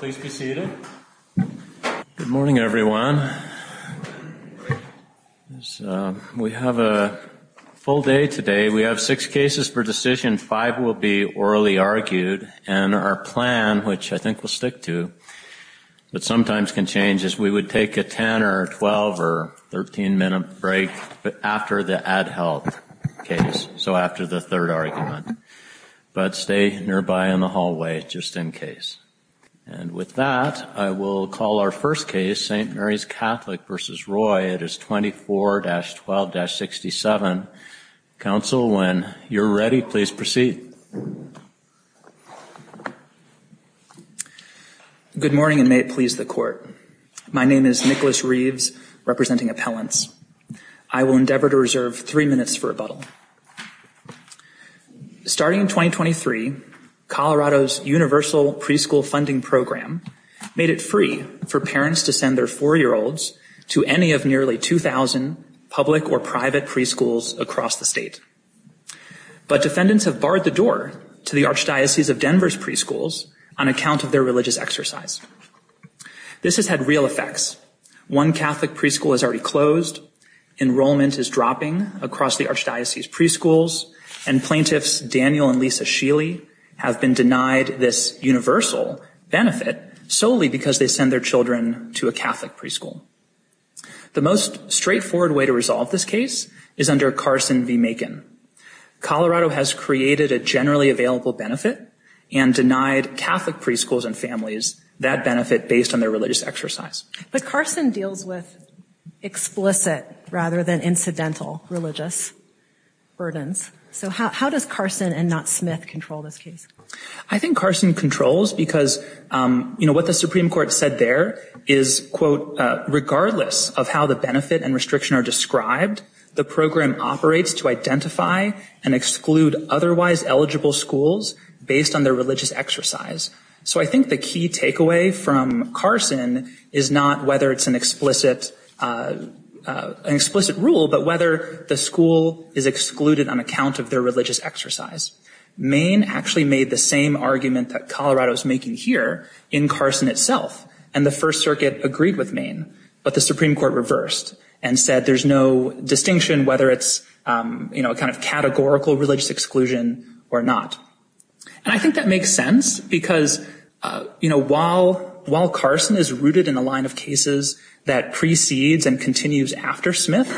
Good morning, everyone. We have a full day today. We have six cases for decision, five will be orally argued, and our plan, which I think we'll stick to, but sometimes can change, is we would take a 10 or 12 or 13-minute break after the ad health case, so after the third argument, but stay nearby in the hallway just in case. And with that, I will call our first case, St. Mary's Catholic v. Roy. It is 24-12-67. Counsel, when you're ready, please proceed. Good morning, and may it please the Court. My name is Nicholas Reeves, representing Appellants. I will endeavor to reserve three minutes for a little. Starting in 2023, Colorado's Universal Preschool Funding Program made it free for parents to send their four-year-olds to any of nearly 2,000 public or private preschools across the state. But defendants have barred the door to the Archdiocese of Denver's preschools on account of their religious exercise. This has had real effects. One Catholic preschool has already closed. Enrollment is dropping across the Archdiocese's preschools, and plaintiffs Daniel and Lisa Sheely have been denied this universal benefit solely because they send their children to a Catholic preschool. The most straightforward way to resolve this case is under Carson v. Macon. Colorado has created a generally available benefit and denied Catholic preschools and families that benefit based on their religious exercise. But Carson deals with explicit rather than incidental religious burdens. So how does Carson and not Smith control this case? I think Carson controls because what the Supreme Court said there is, quote, regardless of how the benefit and restriction are described, the program operates to identify and exclude otherwise eligible schools based on their religious exercise. So I think the key takeaway from Carson is not whether it's an explicit rule, but whether the school is excluded on account of their religious exercise. Maine actually made the same argument that Colorado is making here in Carson itself. And the First Circuit agreed with Maine, but the Supreme Court reversed and said there's no distinction whether it's, you know, a kind of categorical religious exclusion or not. And I think that makes sense because, you know, while Carson is rooted in the line of cases that precedes and continues after Smith,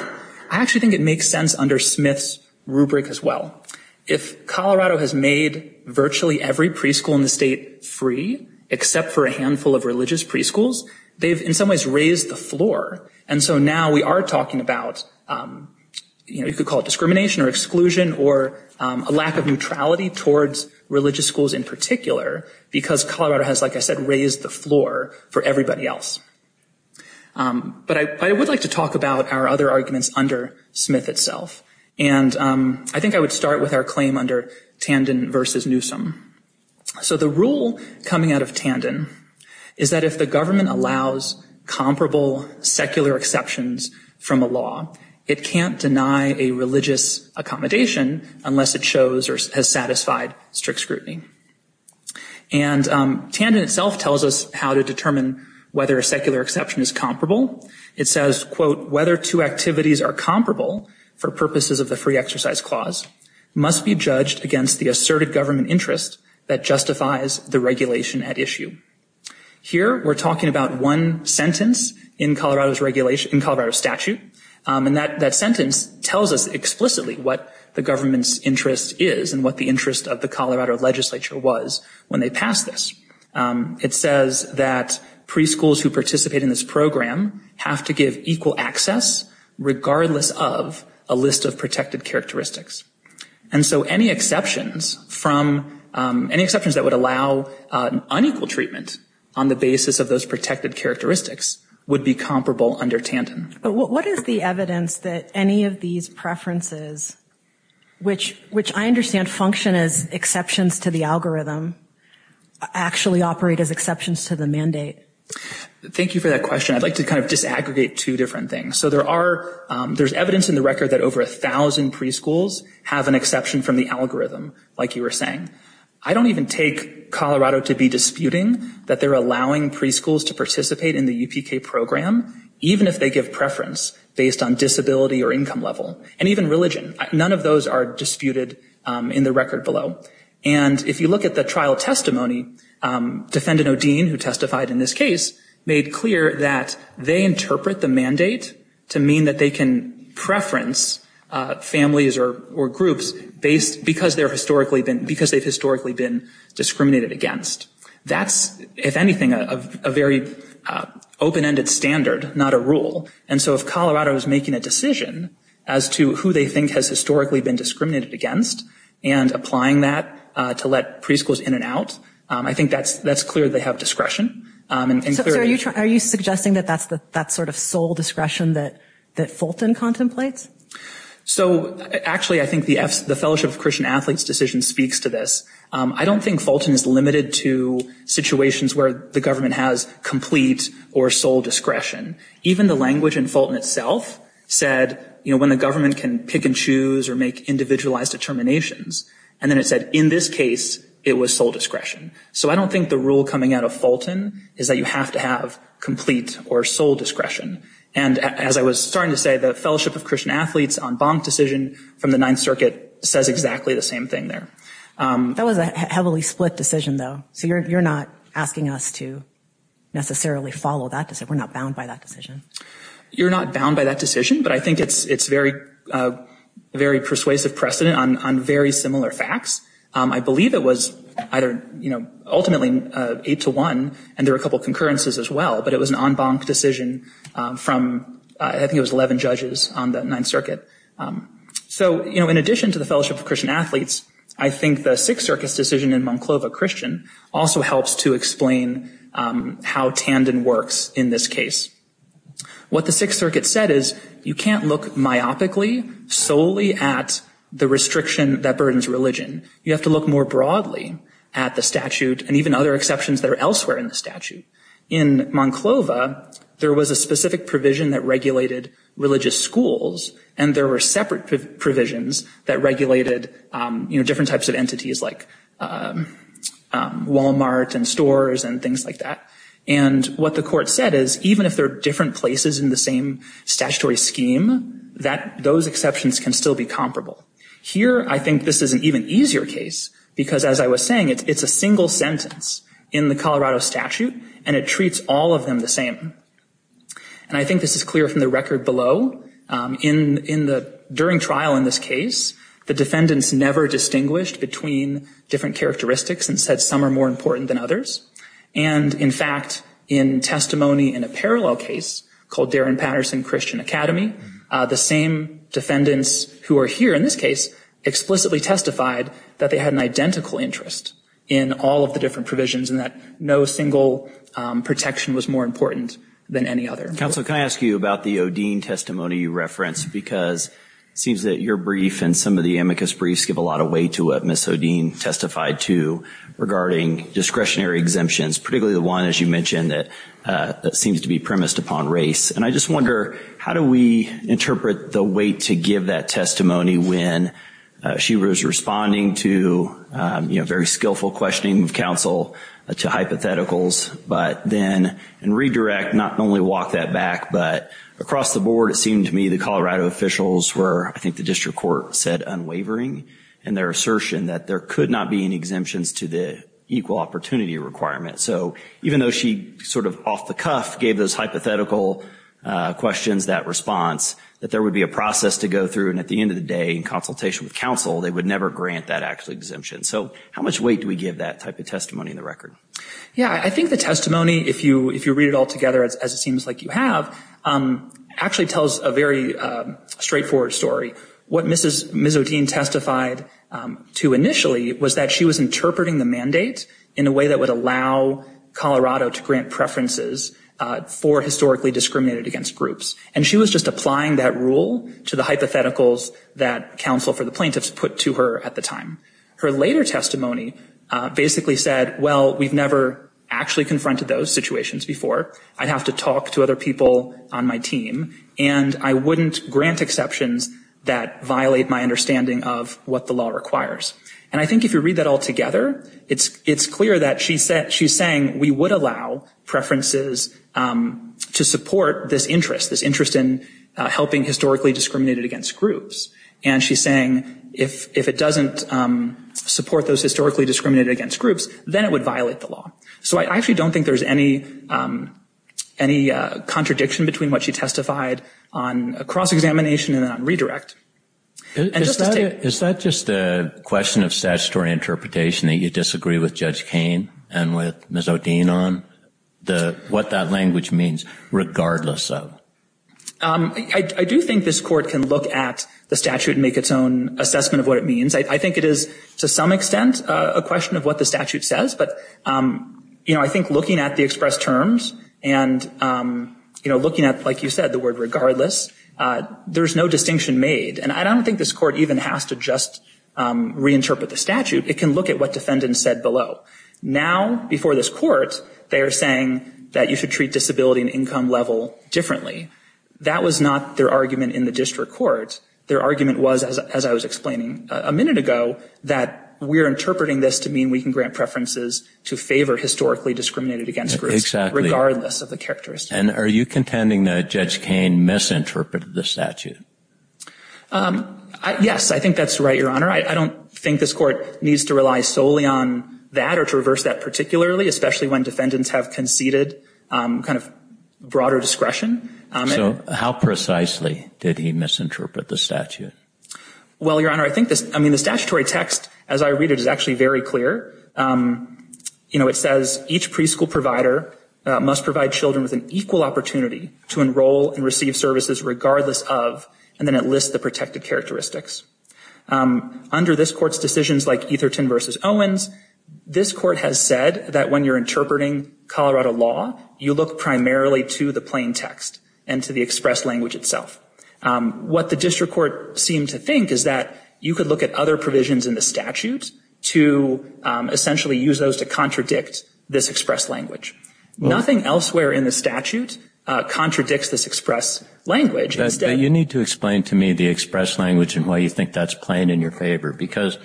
I actually think it makes sense under Smith's rubric as well. If Colorado has made virtually every preschool in the state free except for a handful of religious preschools, they've in some ways raised the floor. And so now we are talking about, you know, you could call it discrimination or exclusion or a lack of neutrality towards religious schools in particular because Colorado has, like I said, raised the floor for everybody else. But I would like to talk about our other arguments under Smith itself. And I think I would start with our claim under Tandon versus Newsom. So the rule coming out of Tandon is that if the government allows comparable secular exceptions from a law, it can't deny a religious accommodation unless it shows or has satisfied strict scrutiny. And Tandon itself tells us how to determine whether a secular exception is comparable. It says, quote, whether two activities are comparable for purposes of the free exercise clause must be judged against the asserted government interest that justifies the regulation at issue. Here we're talking about one sentence in Colorado's regulation, in Colorado statute. And that sentence tells us explicitly what the government's interest is and what the interest of the Colorado legislature was when they passed this. It says that preschools who participate in this program have to give equal access regardless of a list of protected characteristics. And so any exceptions from, any exceptions that would allow unequal treatment on the basis of those protected characteristics would be comparable under Tandon. What is the evidence that any of these preferences, which I understand function as exceptions to the algorithm, actually operate as exceptions to the mandate? Thank you for that question. I'd like to kind of disaggregate two different things. So there are, there's evidence in the record that over a thousand preschools have an exception from the algorithm, like you were saying. I don't even take Colorado to be disputing that they're allowing preschools to participate in the UPK program, even if they give preference based on disability or income level, and even religion. None of those are disputed in the record below. And if you look at the trial testimony, defendant O'Dean, who testified in this case, made clear that they interpret the mandate to mean that they can preference families or groups based, because they've historically been discriminated against. That's, if anything, a very open-ended standard, not a rule. And so if Colorado is making a decision as to who they think has historically been discriminated against and applying that to let preschools in and out, I think that's, that's clear they have discretion and clarity. So are you suggesting that that's the, that's sort of sole discretion that Fulton contemplates? So actually, I think the Fellowship of Christian Athletes decision speaks to this. I don't think Fulton is limited to situations where the government has complete or sole discretion. Even the language in Fulton itself said, you know, when the government can pick and choose or make individualized determinations. And then it said, in this case, it was sole discretion. So I don't think the rule coming out of Fulton is that you have to have complete or sole discretion. And as I was starting to say, the Fellowship of Christian Athletes en banc decision from the Ninth Circuit says exactly the same thing there. That was a heavily split decision, though. So you're, you're not asking us to necessarily follow that decision. We're not bound by that decision. You're not bound by that decision, but I think it's, it's very, very persuasive precedent on, on very similar facts. I believe it was either, you know, ultimately eight to one, and there were a couple of concurrences as well, but it was an en banc decision from, I think it was 11 judges on the Ninth Circuit. So, you know, in addition to the Fellowship of Christian Athletes, I think the Sixth Circuit's decision in Monclova Christian also helps to explain how Tandon works in this case. What the Sixth Circuit said is you can't look myopically solely at the restriction that burdens religion. You have to look more broadly at the statute and even other exceptions that are elsewhere in the statute. In Monclova, there was a specific provision that regulated religious schools, and there were separate provisions that regulated, you know, different stores and things like that. And what the court said is even if they're different places in the same statutory scheme, that, those exceptions can still be comparable. Here, I think this is an even easier case, because as I was saying, it's, it's a single sentence in the Colorado statute, and it treats all of them the same. And I think this is clear from the record below. In, in the, during trial in this case, the defendants never distinguished between different characteristics and said some are more important than others. And, in fact, in testimony in a parallel case called Darren Patterson Christian Academy, the same defendants who are here in this case explicitly testified that they had an identical interest in all of the different provisions and that no single protection was more important than any other. Counsel, can I ask you about the Odeen testimony you referenced? Because it seems that your brief and some of the amicus briefs give a lot of weight to what Ms. Odeen testified to regarding discretionary exemptions, particularly the one, as you mentioned, that, that seems to be premised upon race. And I just wonder, how do we interpret the weight to give that testimony when she was responding to, you know, very skillful questioning of counsel to hypotheticals, but then, and redirect, not only walk that back, but across the board it seemed to me the Colorado officials were, I think the district court said, unwavering in their assertion that there could not be any exemptions to the equal opportunity requirement. So even though she sort of off the cuff gave those hypothetical questions that response, that there would be a process to go through, and at the end of the day, in consultation with counsel, they would never grant that actual exemption. So how much weight do we give that type of testimony in the record? Yeah, I think the testimony, if you, if you read it all together as it seems like you have, actually tells a very straightforward story. What Mrs. Mizzodine testified to initially was that she was interpreting the mandate in a way that would allow Colorado to grant preferences for historically discriminated against groups. And she was just applying that rule to the hypotheticals that counsel for the plaintiffs put to her at the time. Her later testimony basically said, well, we've never actually confronted those situations before. I'd have to talk to other people on my team, and I wouldn't grant exceptions that violate my understanding of what the law requires. And I think if you read that all together, it's, it's clear that she said, she's saying we would allow preferences to support this interest, this interest in helping historically discriminated against groups. And she's saying if, if it doesn't support those historically discriminated against groups, then it would violate the law. So I actually don't think there's any, any contradiction between what she testified on a cross-examination and on redirect. Is that just a question of statutory interpretation that you disagree with Judge Kane and with Mizzodine on? The, what that language means, regardless of? I do think this court can look at the statute and make its own assessment of what it means. I think it is to some extent a question of what the statute says. But, you know, I think looking at the express terms and, you know, looking at, like you said, the word regardless, there's no distinction made. And I don't think this court even has to just reinterpret the statute. It can look at what defendants said below. Now before this court, they are saying that you should treat disability and income level differently. That was not their argument in the district court. Their argument was, as I was explaining a minute ago, that we're interpreting this to mean we can grant preferences to favor historically discriminated against groups, regardless of the characteristics. And are you contending that Judge Kane misinterpreted the statute? Yes, I think that's right, Your Honor. I don't think this court needs to rely solely on that or to reverse that particularly, especially when defendants have conceded kind of broader discretion. So how precisely did he misinterpret the statute? Well, Your Honor, I think this, I mean, the statutory text as I read it is actually very clear. You know, it says each preschool provider must provide children with an equal opportunity to enroll and receive services regardless of, and then it lists the protected characteristics. Under this court's decisions like Etherton v. Owens, this court has said that when you're interpreting Colorado law, you look primarily to the plain text and to the express language itself. What the district court seemed to think is that you could look at other provisions in the statute to essentially use those to contradict this express language. Nothing elsewhere in the statute contradicts this express language. You need to explain to me the express language and why you think that's plain in your favor. Because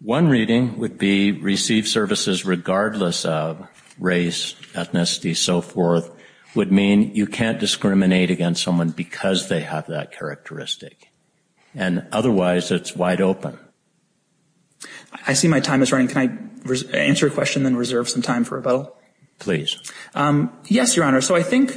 one reading would be received services regardless of race, ethnicity, so forth, would mean you can't discriminate against someone because they have that characteristic. And otherwise it's wide open. I see my time is running. Can I answer a question and then reserve some time for rebuttal? Please. Yes, Your Honor. So I think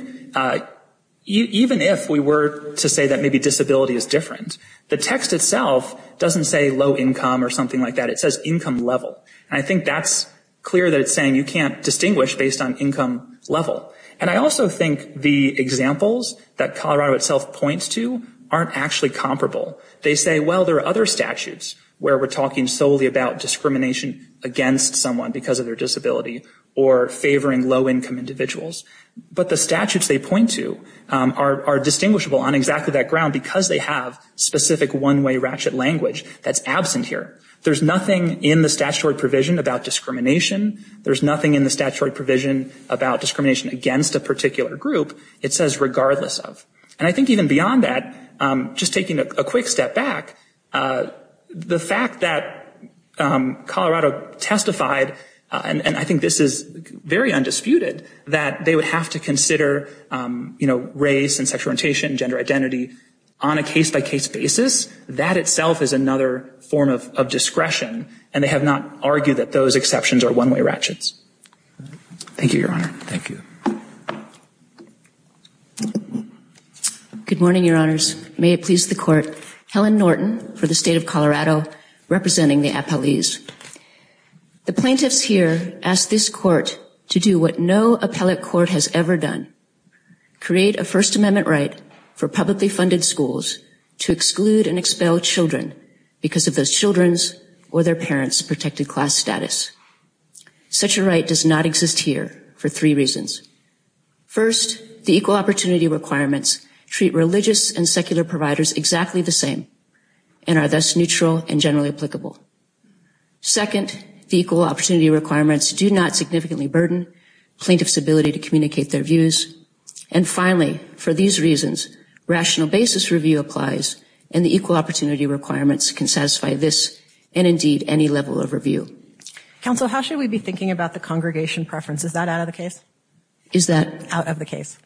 even if we were to say that maybe disability is different, the text itself doesn't say low income or something like that. It says income level. And I think that's clear that it's saying you can't distinguish based on income level. And I also think the examples that Colorado itself points to aren't actually comparable. They say, well, there are other statutes where we're talking solely about discrimination against someone because of their disability or favoring low income individuals. But the statutes they point to are distinguishable on exactly that ground because they have specific one-way ratchet language that's absent here. There's nothing in the statutory provision about discrimination. There's nothing in the statute against a particular group. It says regardless of. And I think even beyond that, just taking a quick step back, the fact that Colorado testified, and I think this is very undisputed, that they would have to consider, you know, race and sexual orientation, gender identity on a case-by-case basis, that itself is another form of discretion. And they have not argued that those exceptions are one-way ratchets. Thank you, Your Honor. Thank you. Good morning, Your Honors. May it please the Court. Helen Norton for the State of Colorado representing the appellees. The plaintiffs here ask this Court to do what no appellate court has ever done, create a First Amendment right for publicly funded schools to exclude and expel children because of those children's or their parents' protected class status. Such a right does not exist here for three reasons. First, the equal opportunity requirements treat religious and secular providers exactly the same and are thus neutral and generally applicable. Second, the equal opportunity requirements do not significantly burden plaintiffs' ability to communicate their views. And finally, for these reasons, rational basis review applies and the equal opportunity requirements can satisfy this and indeed any level of review. Counsel, how should we be thinking about the congregation preference? Is that out of the Is that? Out of the case.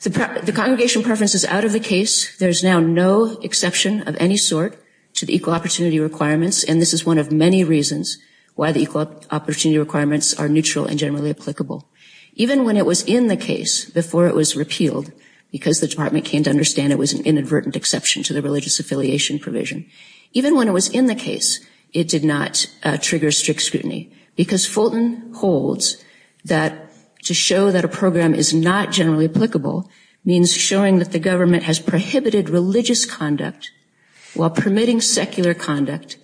The congregation preference is out of the case. There is now no exception of any sort to the equal opportunity requirements, and this is one of many reasons why the equal opportunity requirements are neutral and generally applicable. Even when it was in the case before it was repealed because the department came to understand it was an inadvertent exception to the religious affiliation provision. Even when it was in the case, it did not trigger strict scrutiny because Fulton holds that to show that a program is not generally applicable means showing that the government has prohibited religious conduct while permitting secular conduct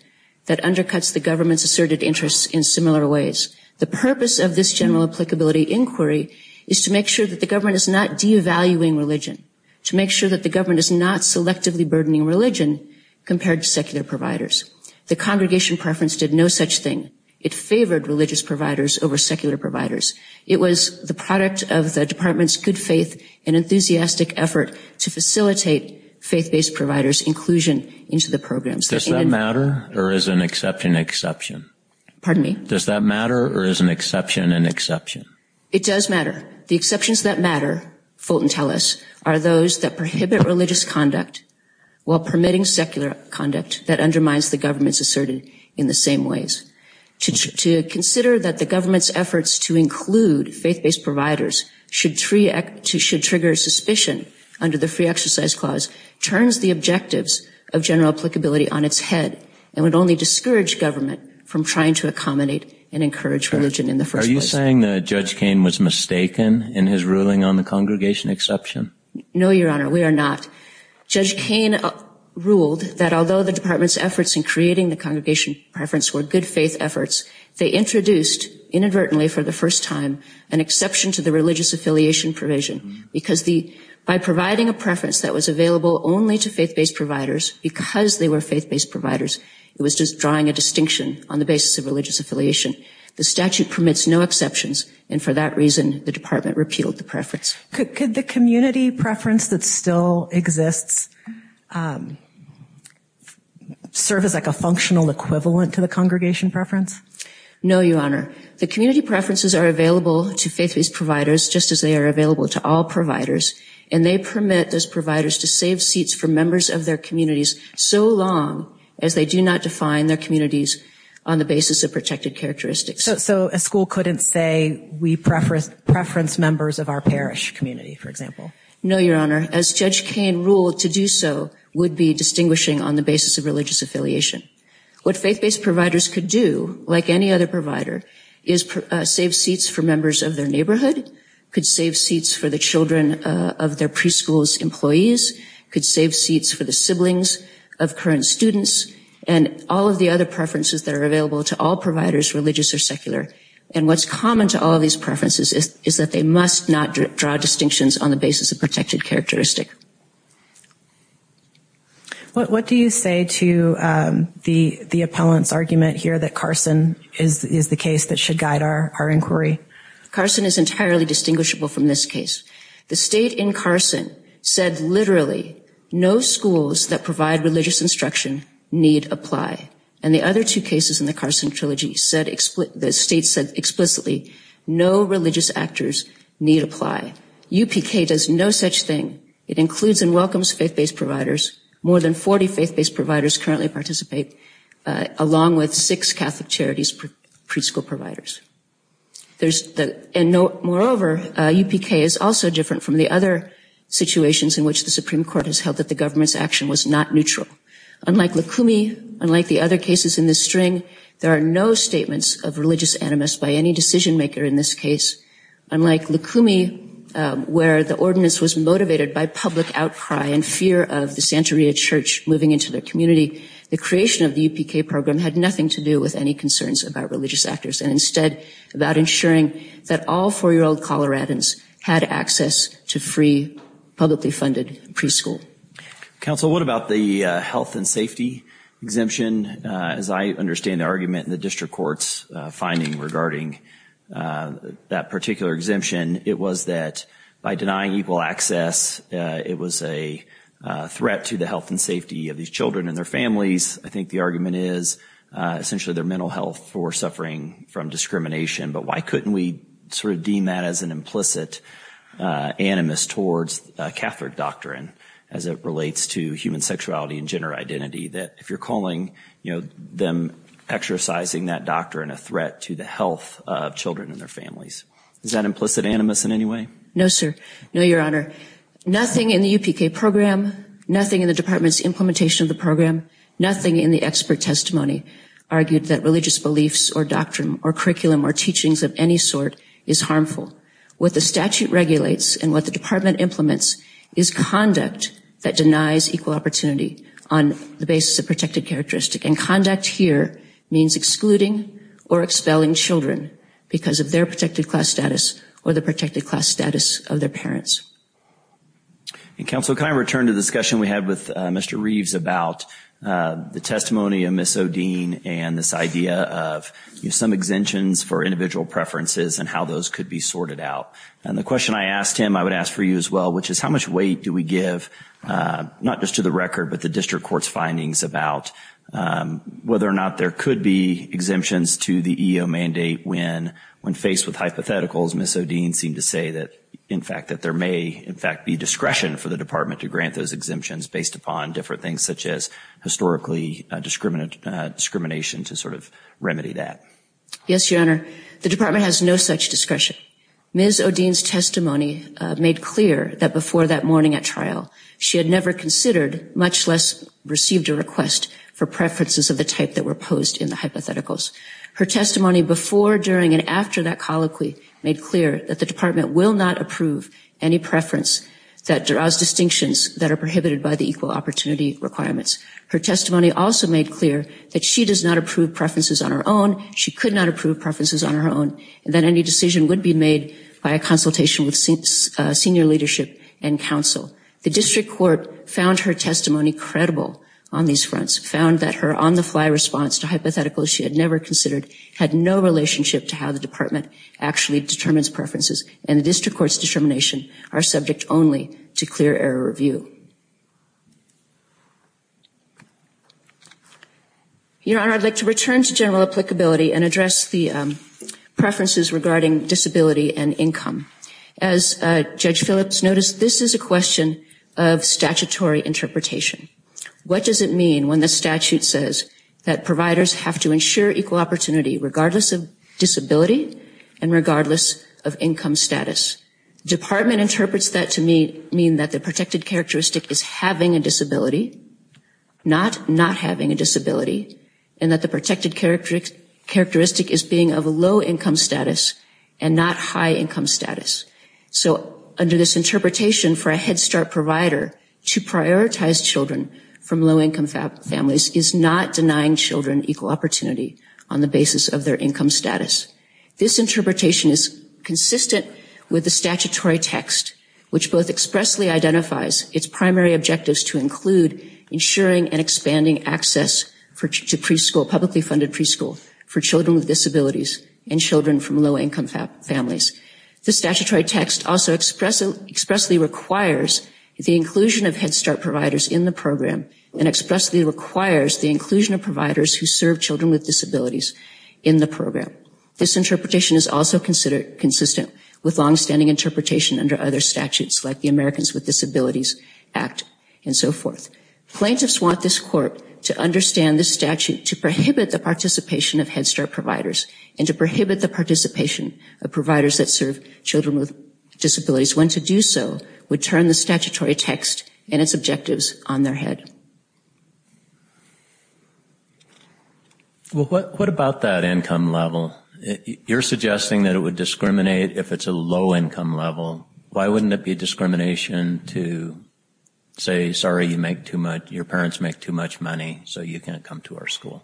that undercuts the government's asserted interests in similar ways. The purpose of general applicability inquiry is to make sure that the government is not devaluing religion, to make sure that the government is not selectively burdening religion compared to secular providers. The congregation preference did no such thing. It favored religious providers over secular providers. It was the product of the department's good faith and enthusiastic effort to facilitate faith-based providers' inclusion into the program. Does that matter or is an exception an exception? Pardon me? Does that matter or is an exception an exception? It does matter. The exceptions that matter, Fulton tells us, are those that prohibit religious conduct while permitting secular conduct that undermines the government's asserted in the same ways. To consider that the government's efforts to include faith-based providers should trigger suspicion under the free exercise clause turns the objectives of general applicability on its head and would only discourage government from trying to accommodate and encourage religion in the first place. Are you saying that Judge Kaine was mistaken in his ruling on the congregation exception? No, Your Honor, we are not. Judge Kaine ruled that although the department's efforts in creating the congregation preference were good faith efforts, they introduced, inadvertently for the first time, an exception to the religious affiliation provision because by providing a preference that was available only to faith-based providers because they were faith-based providers, it was just drawing a distinction on the basis of religious affiliation. The statute permits no exceptions and for that reason the department repealed the preference. Could the community preference that still exists serve as like a functional equivalent to the congregation preference? No, Your Honor. The community preferences are available to faith-based providers just as they are available to all providers and they permit those providers to save seats for members of their communities so long as they do not define their communities on the basis of protected characteristics. So a school couldn't say we preference members of our parish community, for example? No, Your Honor. As Judge Kaine ruled, to do so would be distinguishing on the basis of religious affiliation. What faith-based providers could do, like any other provider, is save seats for members of their neighborhood, could save seats for the children of their preschool's employees, could save seats for the siblings of current students and all of the other preferences that are available to all providers, religious or secular. And what's common to all of these preferences is that they must not draw distinctions on the basis of protected characteristic. What do you say to the appellant's argument here that Carson is the case that should guide our inquiry? Carson is entirely distinguishable from this case. The state in Carson said literally no schools that provide religious instruction need apply. And the other two cases in the Carson Trilogy, the state said explicitly no religious actors need apply. UPK does no such thing. It includes and welcomes faith-based providers. More than 40 faith-based providers currently participate, along with six Catholic Charities preschool providers. Moreover, UPK is also different from the other situations in which the Supreme Court has held that the government's action was not neutral. Unlike Lukumi, unlike the other cases in this string, there are no statements of religious animus by any decision-maker in this case. Unlike Lukumi, where the ordinance was motivated by public outcry and fear of the Santeria church moving into their community, the creation of the UPK program had nothing to do with any concerns about religious actors, and instead about ensuring that all four-year-old Coloradans had access to free, publicly funded preschool. Counsel, what about the health and safety exemption? As I understand the argument in the district court's finding regarding that particular exemption, it was that by denying equal access, it was a threat to the health and safety of these children and their families. I think the argument is essentially their mental health for suffering from discrimination, but why couldn't we sort of deem that as an implicit animus towards Catholic doctrine as it relates to human sexuality and gender identity, that if you're calling, you know, them exercising that doctrine a threat to the health of children and their families? Is that implicit animus in any way? No, sir. No, Your Honor. Nothing in the UPK program, nothing in the department's implementation of the program, nothing in the expert testimony argued that religious beliefs or doctrine or curriculum or teachings of any sort is harmful. What the statute regulates and what the department implements is conduct that denies equal opportunity on the basis of protected characteristic, and conduct here means excluding or expelling children because of their protected class status or the protected class status of their parents. And, Counsel, can I return to the discussion we had with Mr. Reeves about the testimony of Ms. O'Dean and this idea of some exemptions for individual preferences and how those could be sorted out? And the question I asked him, I would ask for you as well, which is how much weight do we give, not just to the record, but the district court's findings about whether or not there could be exemptions to the EEO mandate when, when faced with hypotheticals, Ms. O'Dean seemed to say that, in fact, that there may, in fact, be discretion for the department to grant those exemptions based upon different things such as historically discrimination to sort of remedy that. Yes, Your Honor. The department has no such discretion. Ms. O'Dean's testimony made clear that before that morning at trial, she had never considered, much less received a request for preferences of the type that were posed in the hypotheticals. Her testimony before, during, and after that colloquy made clear that the department will not approve any preference that draws distinctions that are prohibited by the equal opportunity requirements. Her testimony also made clear that she does not approve preferences on her own, she could not approve preferences on her own, and that any decision would be made by a consultation with senior leadership and counsel. The district court found her testimony credible on these fronts, found that her on-the-fly response to hypotheticals she had never considered had no relationship to how the department actually determines preferences, and the district court's determination are subject only to clear error review. Your Honor, I'd like to return to general applicability and address the preferences regarding disability and income. As Judge Phillips noticed, this is a question of statutory interpretation. What does it mean when the statute says that providers have to ensure equal opportunity regardless of disability and regardless of income status? Department interprets that to mean that the protected characteristic is having a disability, not not having a disability, and that the protected characteristic is being of a low income status and not high income status. So under this interpretation for a Head Start provider to prioritize children from low income families is not denying children equal opportunity on the basis of their income status. This interpretation is consistent with the statutory text, which both expressly identifies its primary objectives to include ensuring and expanding access to preschool, publicly funded preschool, for children with disabilities and children from low income families. The statutory text also expressly requires the inclusion of Head Start providers in the program and expressly requires the inclusion of providers who serve children with disabilities in the program. This interpretation is also consistent with longstanding interpretation under other statutes like the Americans with Disabilities Act and so forth. Plaintiffs want this court to understand this statute to prohibit the participation of Head Start providers and to prohibit the participation of providers that serve children with disabilities. When to do so would turn the statutory text and its objectives on their head. What about that income level? You're suggesting that it would discriminate if it's a low income level. Why wouldn't it be discrimination to say, sorry you make too much, your parents make too much money so you can't come to our school?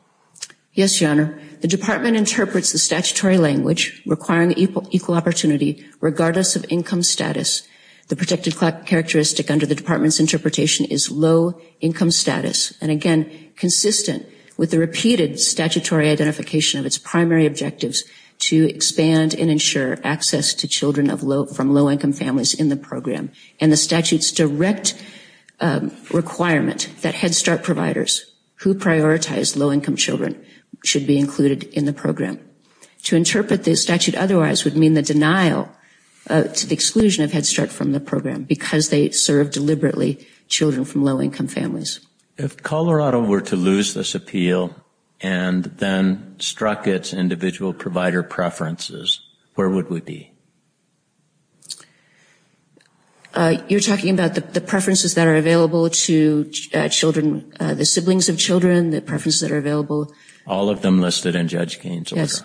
Yes, Your Honor. The department interprets the statutory language requiring equal opportunity regardless of income status. The protected characteristic under the department's interpretation is low income status. And again, consistent with the repeated statutory identification of its primary objectives to expand and ensure access to children from low income families in the program. And the statute's direct requirement that Head Start providers who prioritize low income children should be included in the program. To interpret the statute otherwise would mean the denial to the exclusion of Head Start from the program because they serve deliberately children from low income families. If Colorado were to lose this appeal and then struck its individual provider preferences, where would we be? You're talking about the preferences that are available to children, the siblings of children, the preferences that are available. All of them listed in Judge Gaines' order. Yes.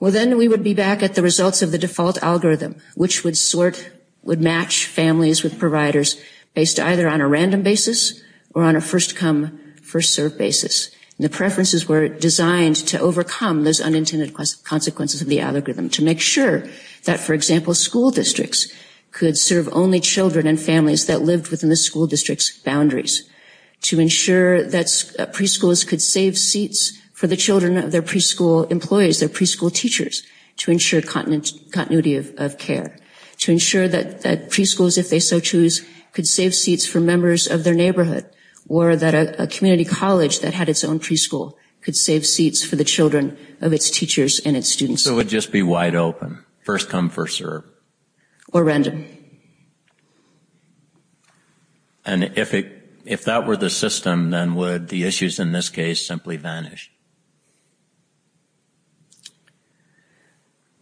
Well then we would be back at the results of the default algorithm, which would sort, would match families with providers based either on a random basis or on a first come, first serve basis. And the preferences were designed to overcome those unintended consequences of the algorithm to make sure that, for example, school districts could serve only children and families that lived within the school district's boundaries. To ensure that preschools could save seats for the children of their preschool employees, their preschool teachers, to ensure continuity of care. To ensure that preschools, if they so choose, could save seats for members of their neighborhood. Or that a community college that had its own preschool could save seats for the children of its teachers and its students. So it would just be wide open, first come, first serve. Or random. And if it, if that were the system, then would the issues in this case simply vanish?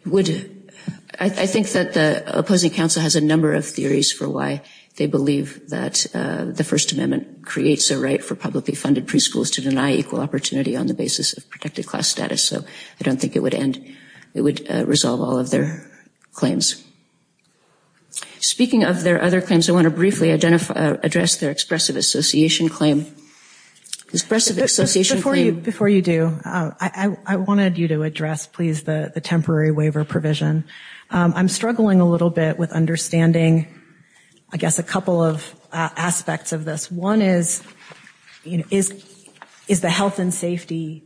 Would, I think that the opposing counsel has a number of theories for why they believe that the First Amendment creates a right for publicly funded preschools to deny equal opportunity on the basis of protected class status. So I don't think it would end, it would resolve all of their claims. Speaking of their other claims, I want to briefly identify, address their expressive association claim. Expressive association claim. Before you do, I wanted you to address, please, the temporary waiver provision. I'm struggling a little bit with understanding, I guess, a couple of aspects of this. One is, is the health and safety,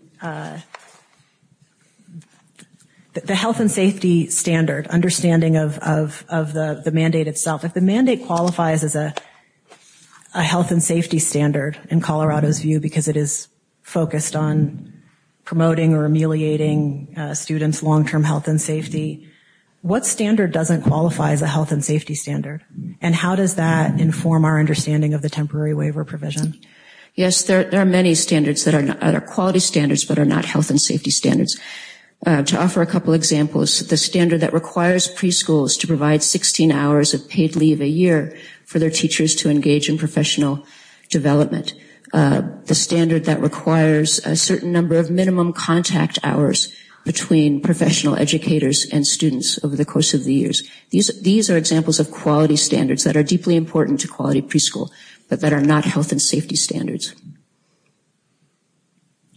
the health and safety standard, understanding of the mandate itself. If the mandate qualifies as a health and safety standard, in Colorado's view, because it is focused on promoting or ameliorating students' long-term health and safety, what standard doesn't qualify as a health and safety standard? And how does that inform our understanding of the temporary waiver provision? Yes, there are many standards that are quality standards but are not health and safety standards. To offer a couple of examples, the standard that requires preschools to provide 16 hours of paid leave a year for their teachers to engage in professional development. The standard that requires a certain number of minimum contact hours between professional educators and students over the course of the years. These are examples of quality standards that are deeply important to quality preschool but that are not health and safety standards.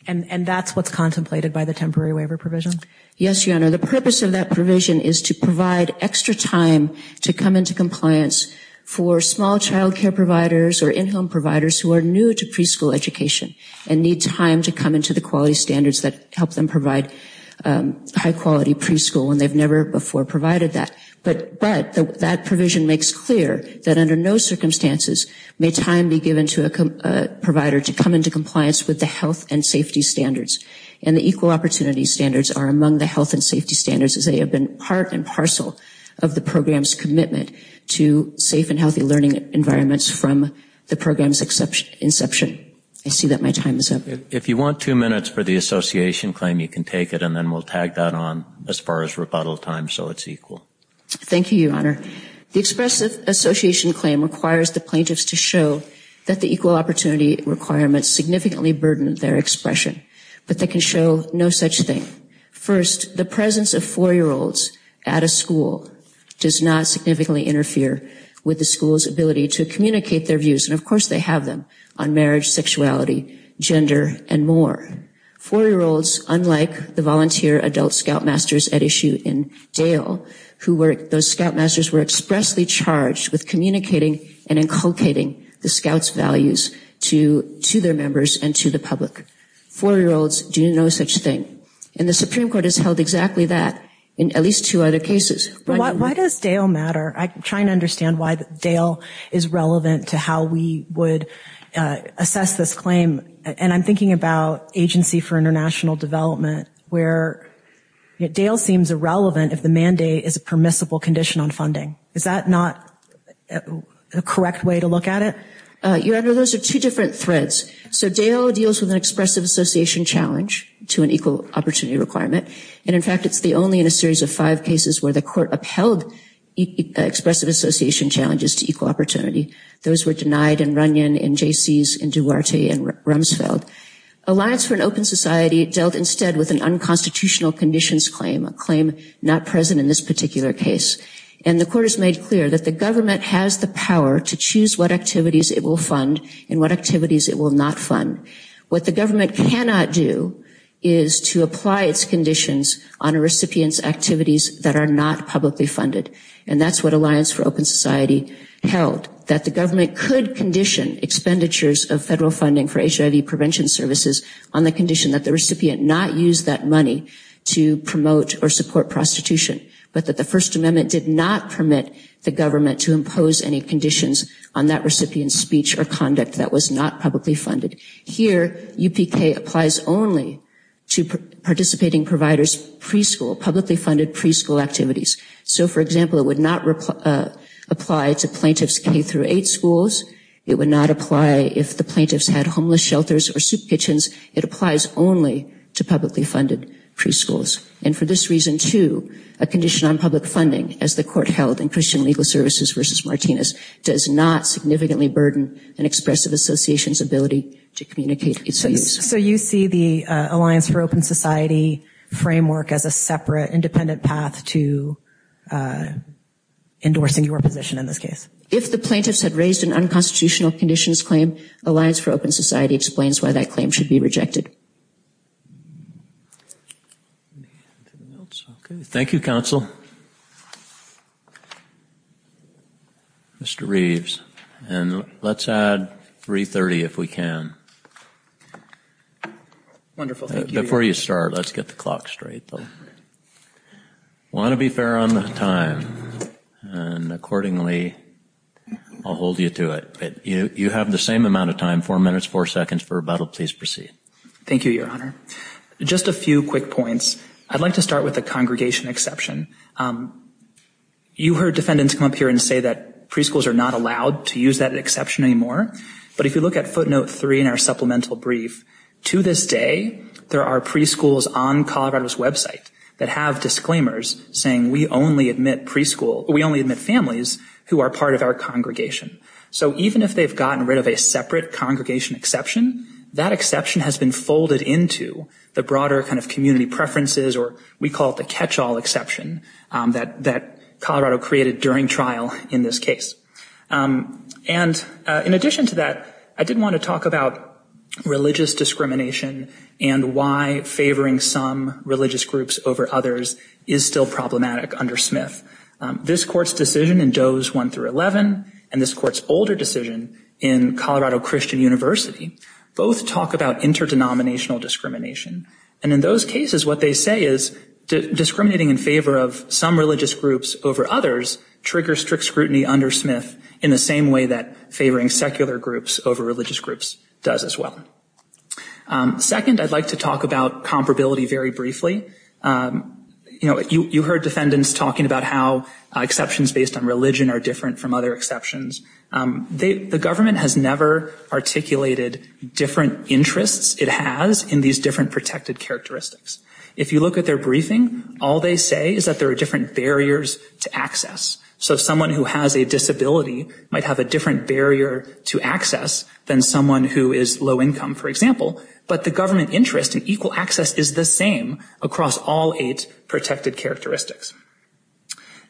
And that's what's contemplated by the temporary waiver provision? Yes, Your Honor. The purpose of that provision is to provide extra time to come into compliance for small child care providers or in-home providers who are new to preschool education and need time to come into the quality standards that help them provide high-quality preschool when they've never before provided that. But that provision makes clear that under no circumstances may time be given to a provider to come into compliance with the health and safety standards. And the equal opportunity standards are among the health and safety standards as they have been part and parcel of the program's commitment to safe and healthy learning environments from the program's inception. I see that my time is up. If you want two minutes for the association claim, you can take it and then we'll tag that on as far as rebuttal time so it's equal. Thank you, Your Honor. The expressive association claim requires the plaintiffs to show that the equal opportunity requirements significantly burden their expression. But they can show no such thing. First, the presence of four-year-olds at a school does not significantly interfere with the school's ability to communicate their views. And of course they have them on marriage, sexuality, gender, and more. Four-year-olds, unlike the volunteer adult scoutmasters at issue in Dale, who were, those scoutmasters were expressly charged with communicating and inculcating the scout's values to their members and to the public. Four-year-olds do no such thing. And the Supreme Court has held exactly that in at least two other cases. Why does Dale matter? I'm trying to understand why Dale is relevant to how we would assess this claim. And I'm thinking about Agency for International Development, where Dale seems irrelevant if the mandate is a permissible condition on funding. Is that not a correct way to look at it? Your Honor, those are two different threads. So Dale deals with an expressive association challenge to an equal opportunity requirement. And in fact it's the only in a series of five cases where the court upheld expressive association challenges to equal opportunity. Those were denied in Runyon, in Jaycees, in Duarte, and Rumsfeld. Alliance for an Open Society dealt instead with an unconstitutional conditions claim, a claim not present in this particular case. And the court has made clear that the government has the power to choose what activities it will fund and what activities it will not fund. What the government cannot do is to apply its conditions on a recipient's activities that are not publicly funded. And that's what Alliance for Open Society held, that the government could condition expenditures of federal funding for HIV prevention services on the condition that the recipient not use that money to promote or support prostitution, but that the First Amendment did not permit the government to impose any conditions on that recipient's speech or conduct that was not publicly funded. Here, UPK applies only to participating providers preschool, publicly funded preschool activities. So, for example, it would not apply to plaintiffs K-8 schools. It would not apply if the plaintiffs had homeless shelters or soup kitchens. It applies only to publicly funded preschools. And for this reason, too, a condition on public funding, as the court held in Christian Legal Services v. Martinez, does not significantly burden an expressive association's ability to communicate its views. So you see the Alliance for Open Society framework as a separate, independent path to endorsing your position in this case? If the plaintiffs had raised an unconstitutional conditions claim, Alliance for Open Society explains why that claim should be rejected. Thank you, counsel. Mr. Reeves. And let's add 330 if we can. Wonderful. Thank you. Before you start, let's get the clock straight. I want to be fair on the time. And accordingly, I'll hold you to it. But you have the same amount of time, four minutes, four seconds for rebuttal. Please proceed. Thank you, Your Honor. Just a few quick points. I'd like to start with the congregation exception. You heard defendants come up here and say that preschools are not allowed to use that exception anymore. But if you look at footnote three in our supplemental brief, to this day, there are preschools on Colorado's website that have disclaimers saying we only admit preschool, we only admit families who are part of our congregation. So even if they've gotten rid of a separate congregation exception, that exception has been folded into the broader kind of community preferences, or we call it the catch-all exception, that Colorado created during trial in this case. And in addition to that, I did want to talk about religious discrimination and why favoring some religious groups over others is still problematic under Smith. This Court's decision in Doe's 1-11 and this Court's older decision in Colorado Christian University both talk about interdenominational discrimination. And in those cases, what they say is discriminating in favor of some religious groups over others triggers strict scrutiny under Smith in the same way that favoring secular groups over religious groups does as well. Second, I'd like to talk about comparability very briefly. You know, you heard defendants talking about how exceptions based on religion are different from other exceptions. The government has never articulated different interests it has in these different protected characteristics. If you look at their briefing, all they say is that there are different barriers to access. So someone who has a disability might have a different barrier to access than someone who is low income, for example, but the government interest in equal access is the same across all eight protected characteristics.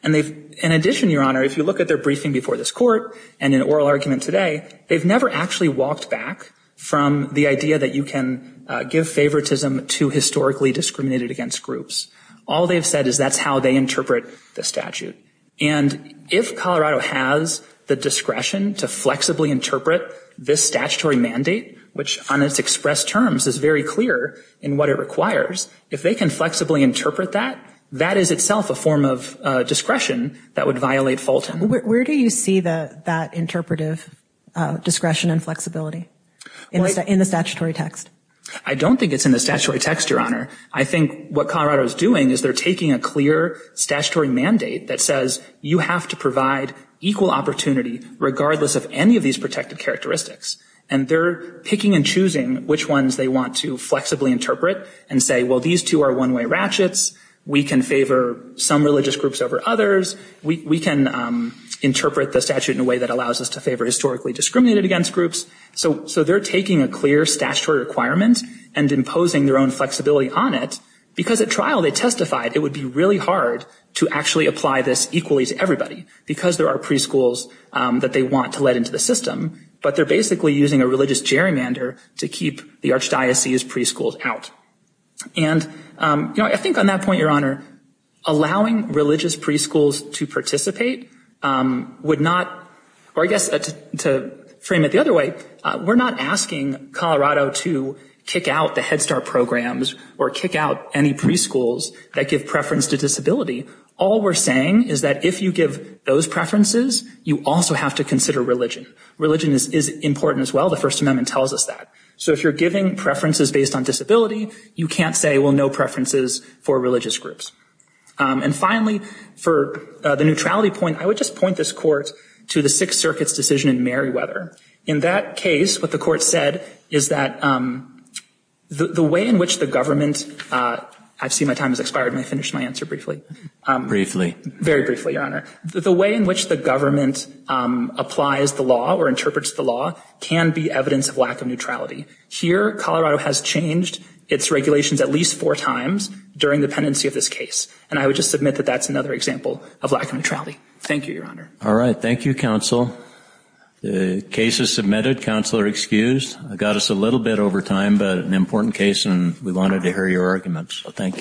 And they've, in addition, Your Honor, if you look at their briefing before this Court and in oral argument today, they've never actually walked back from the idea that you can give favoritism to historically discriminated against groups. All they've said is that's how they interpret the statute. And if Colorado has the discretion to flexibly interpret this statutory mandate, which on its express terms is very clear in what it requires, if they can flexibly interpret that, that is itself a form of discretion that would violate Fulton. Where do you see that interpretive discretion and flexibility? In the statutory text? I don't think it's in the statutory text, Your Honor. I think what Colorado is doing is they're taking a clear statutory mandate that says you have to provide equal opportunity regardless of any of these protected characteristics. And they're picking and choosing which ones they want to flexibly interpret and say, well, these two are one-way ratchets. We can favor some religious groups over others. We can interpret the statute in a way that allows us to favor historically discriminated against groups. So they're taking a clear statutory requirement and imposing their own flexibility on it because at trial they testified it would be really hard to actually apply this equally to everybody because there are preschools that they want to let into the system. But they're basically using a religious gerrymander to keep the archdiocese preschools out. And, you know, I think on that point, Your Honor, allowing religious preschools to participate would not, or I guess to frame it the other way, we're not asking Colorado to kick out the Head Start programs or kick out any preschools that give preference to disability. All we're saying is that if you give those preferences, you also have to consider religion. Religion is important as well. The First Amendment tells us that. So if you're giving preferences based on disability, you can't say, well, no preferences for religious groups. And finally, for the neutrality point, I would just point this Court to the Sixth Circuit's decision in Merriweather. In that case, what the Court said is that the way in which the government, I've seen my time has expired and I finished my answer briefly. Briefly. Very briefly, Your Honor. The way in which the government applies the law or interprets the law can be evidence of lack of neutrality. Here, Colorado has changed its regulations at least four times during the pendency of this case. And I would just submit that that's another example of lack of neutrality. Thank you, Your Honor. All right. Thank you, counsel. The case is submitted. Counsel are excused. I got us a little bit over time, but an important case and we wanted to hear your arguments. So thank you. Thank you, Your Honor.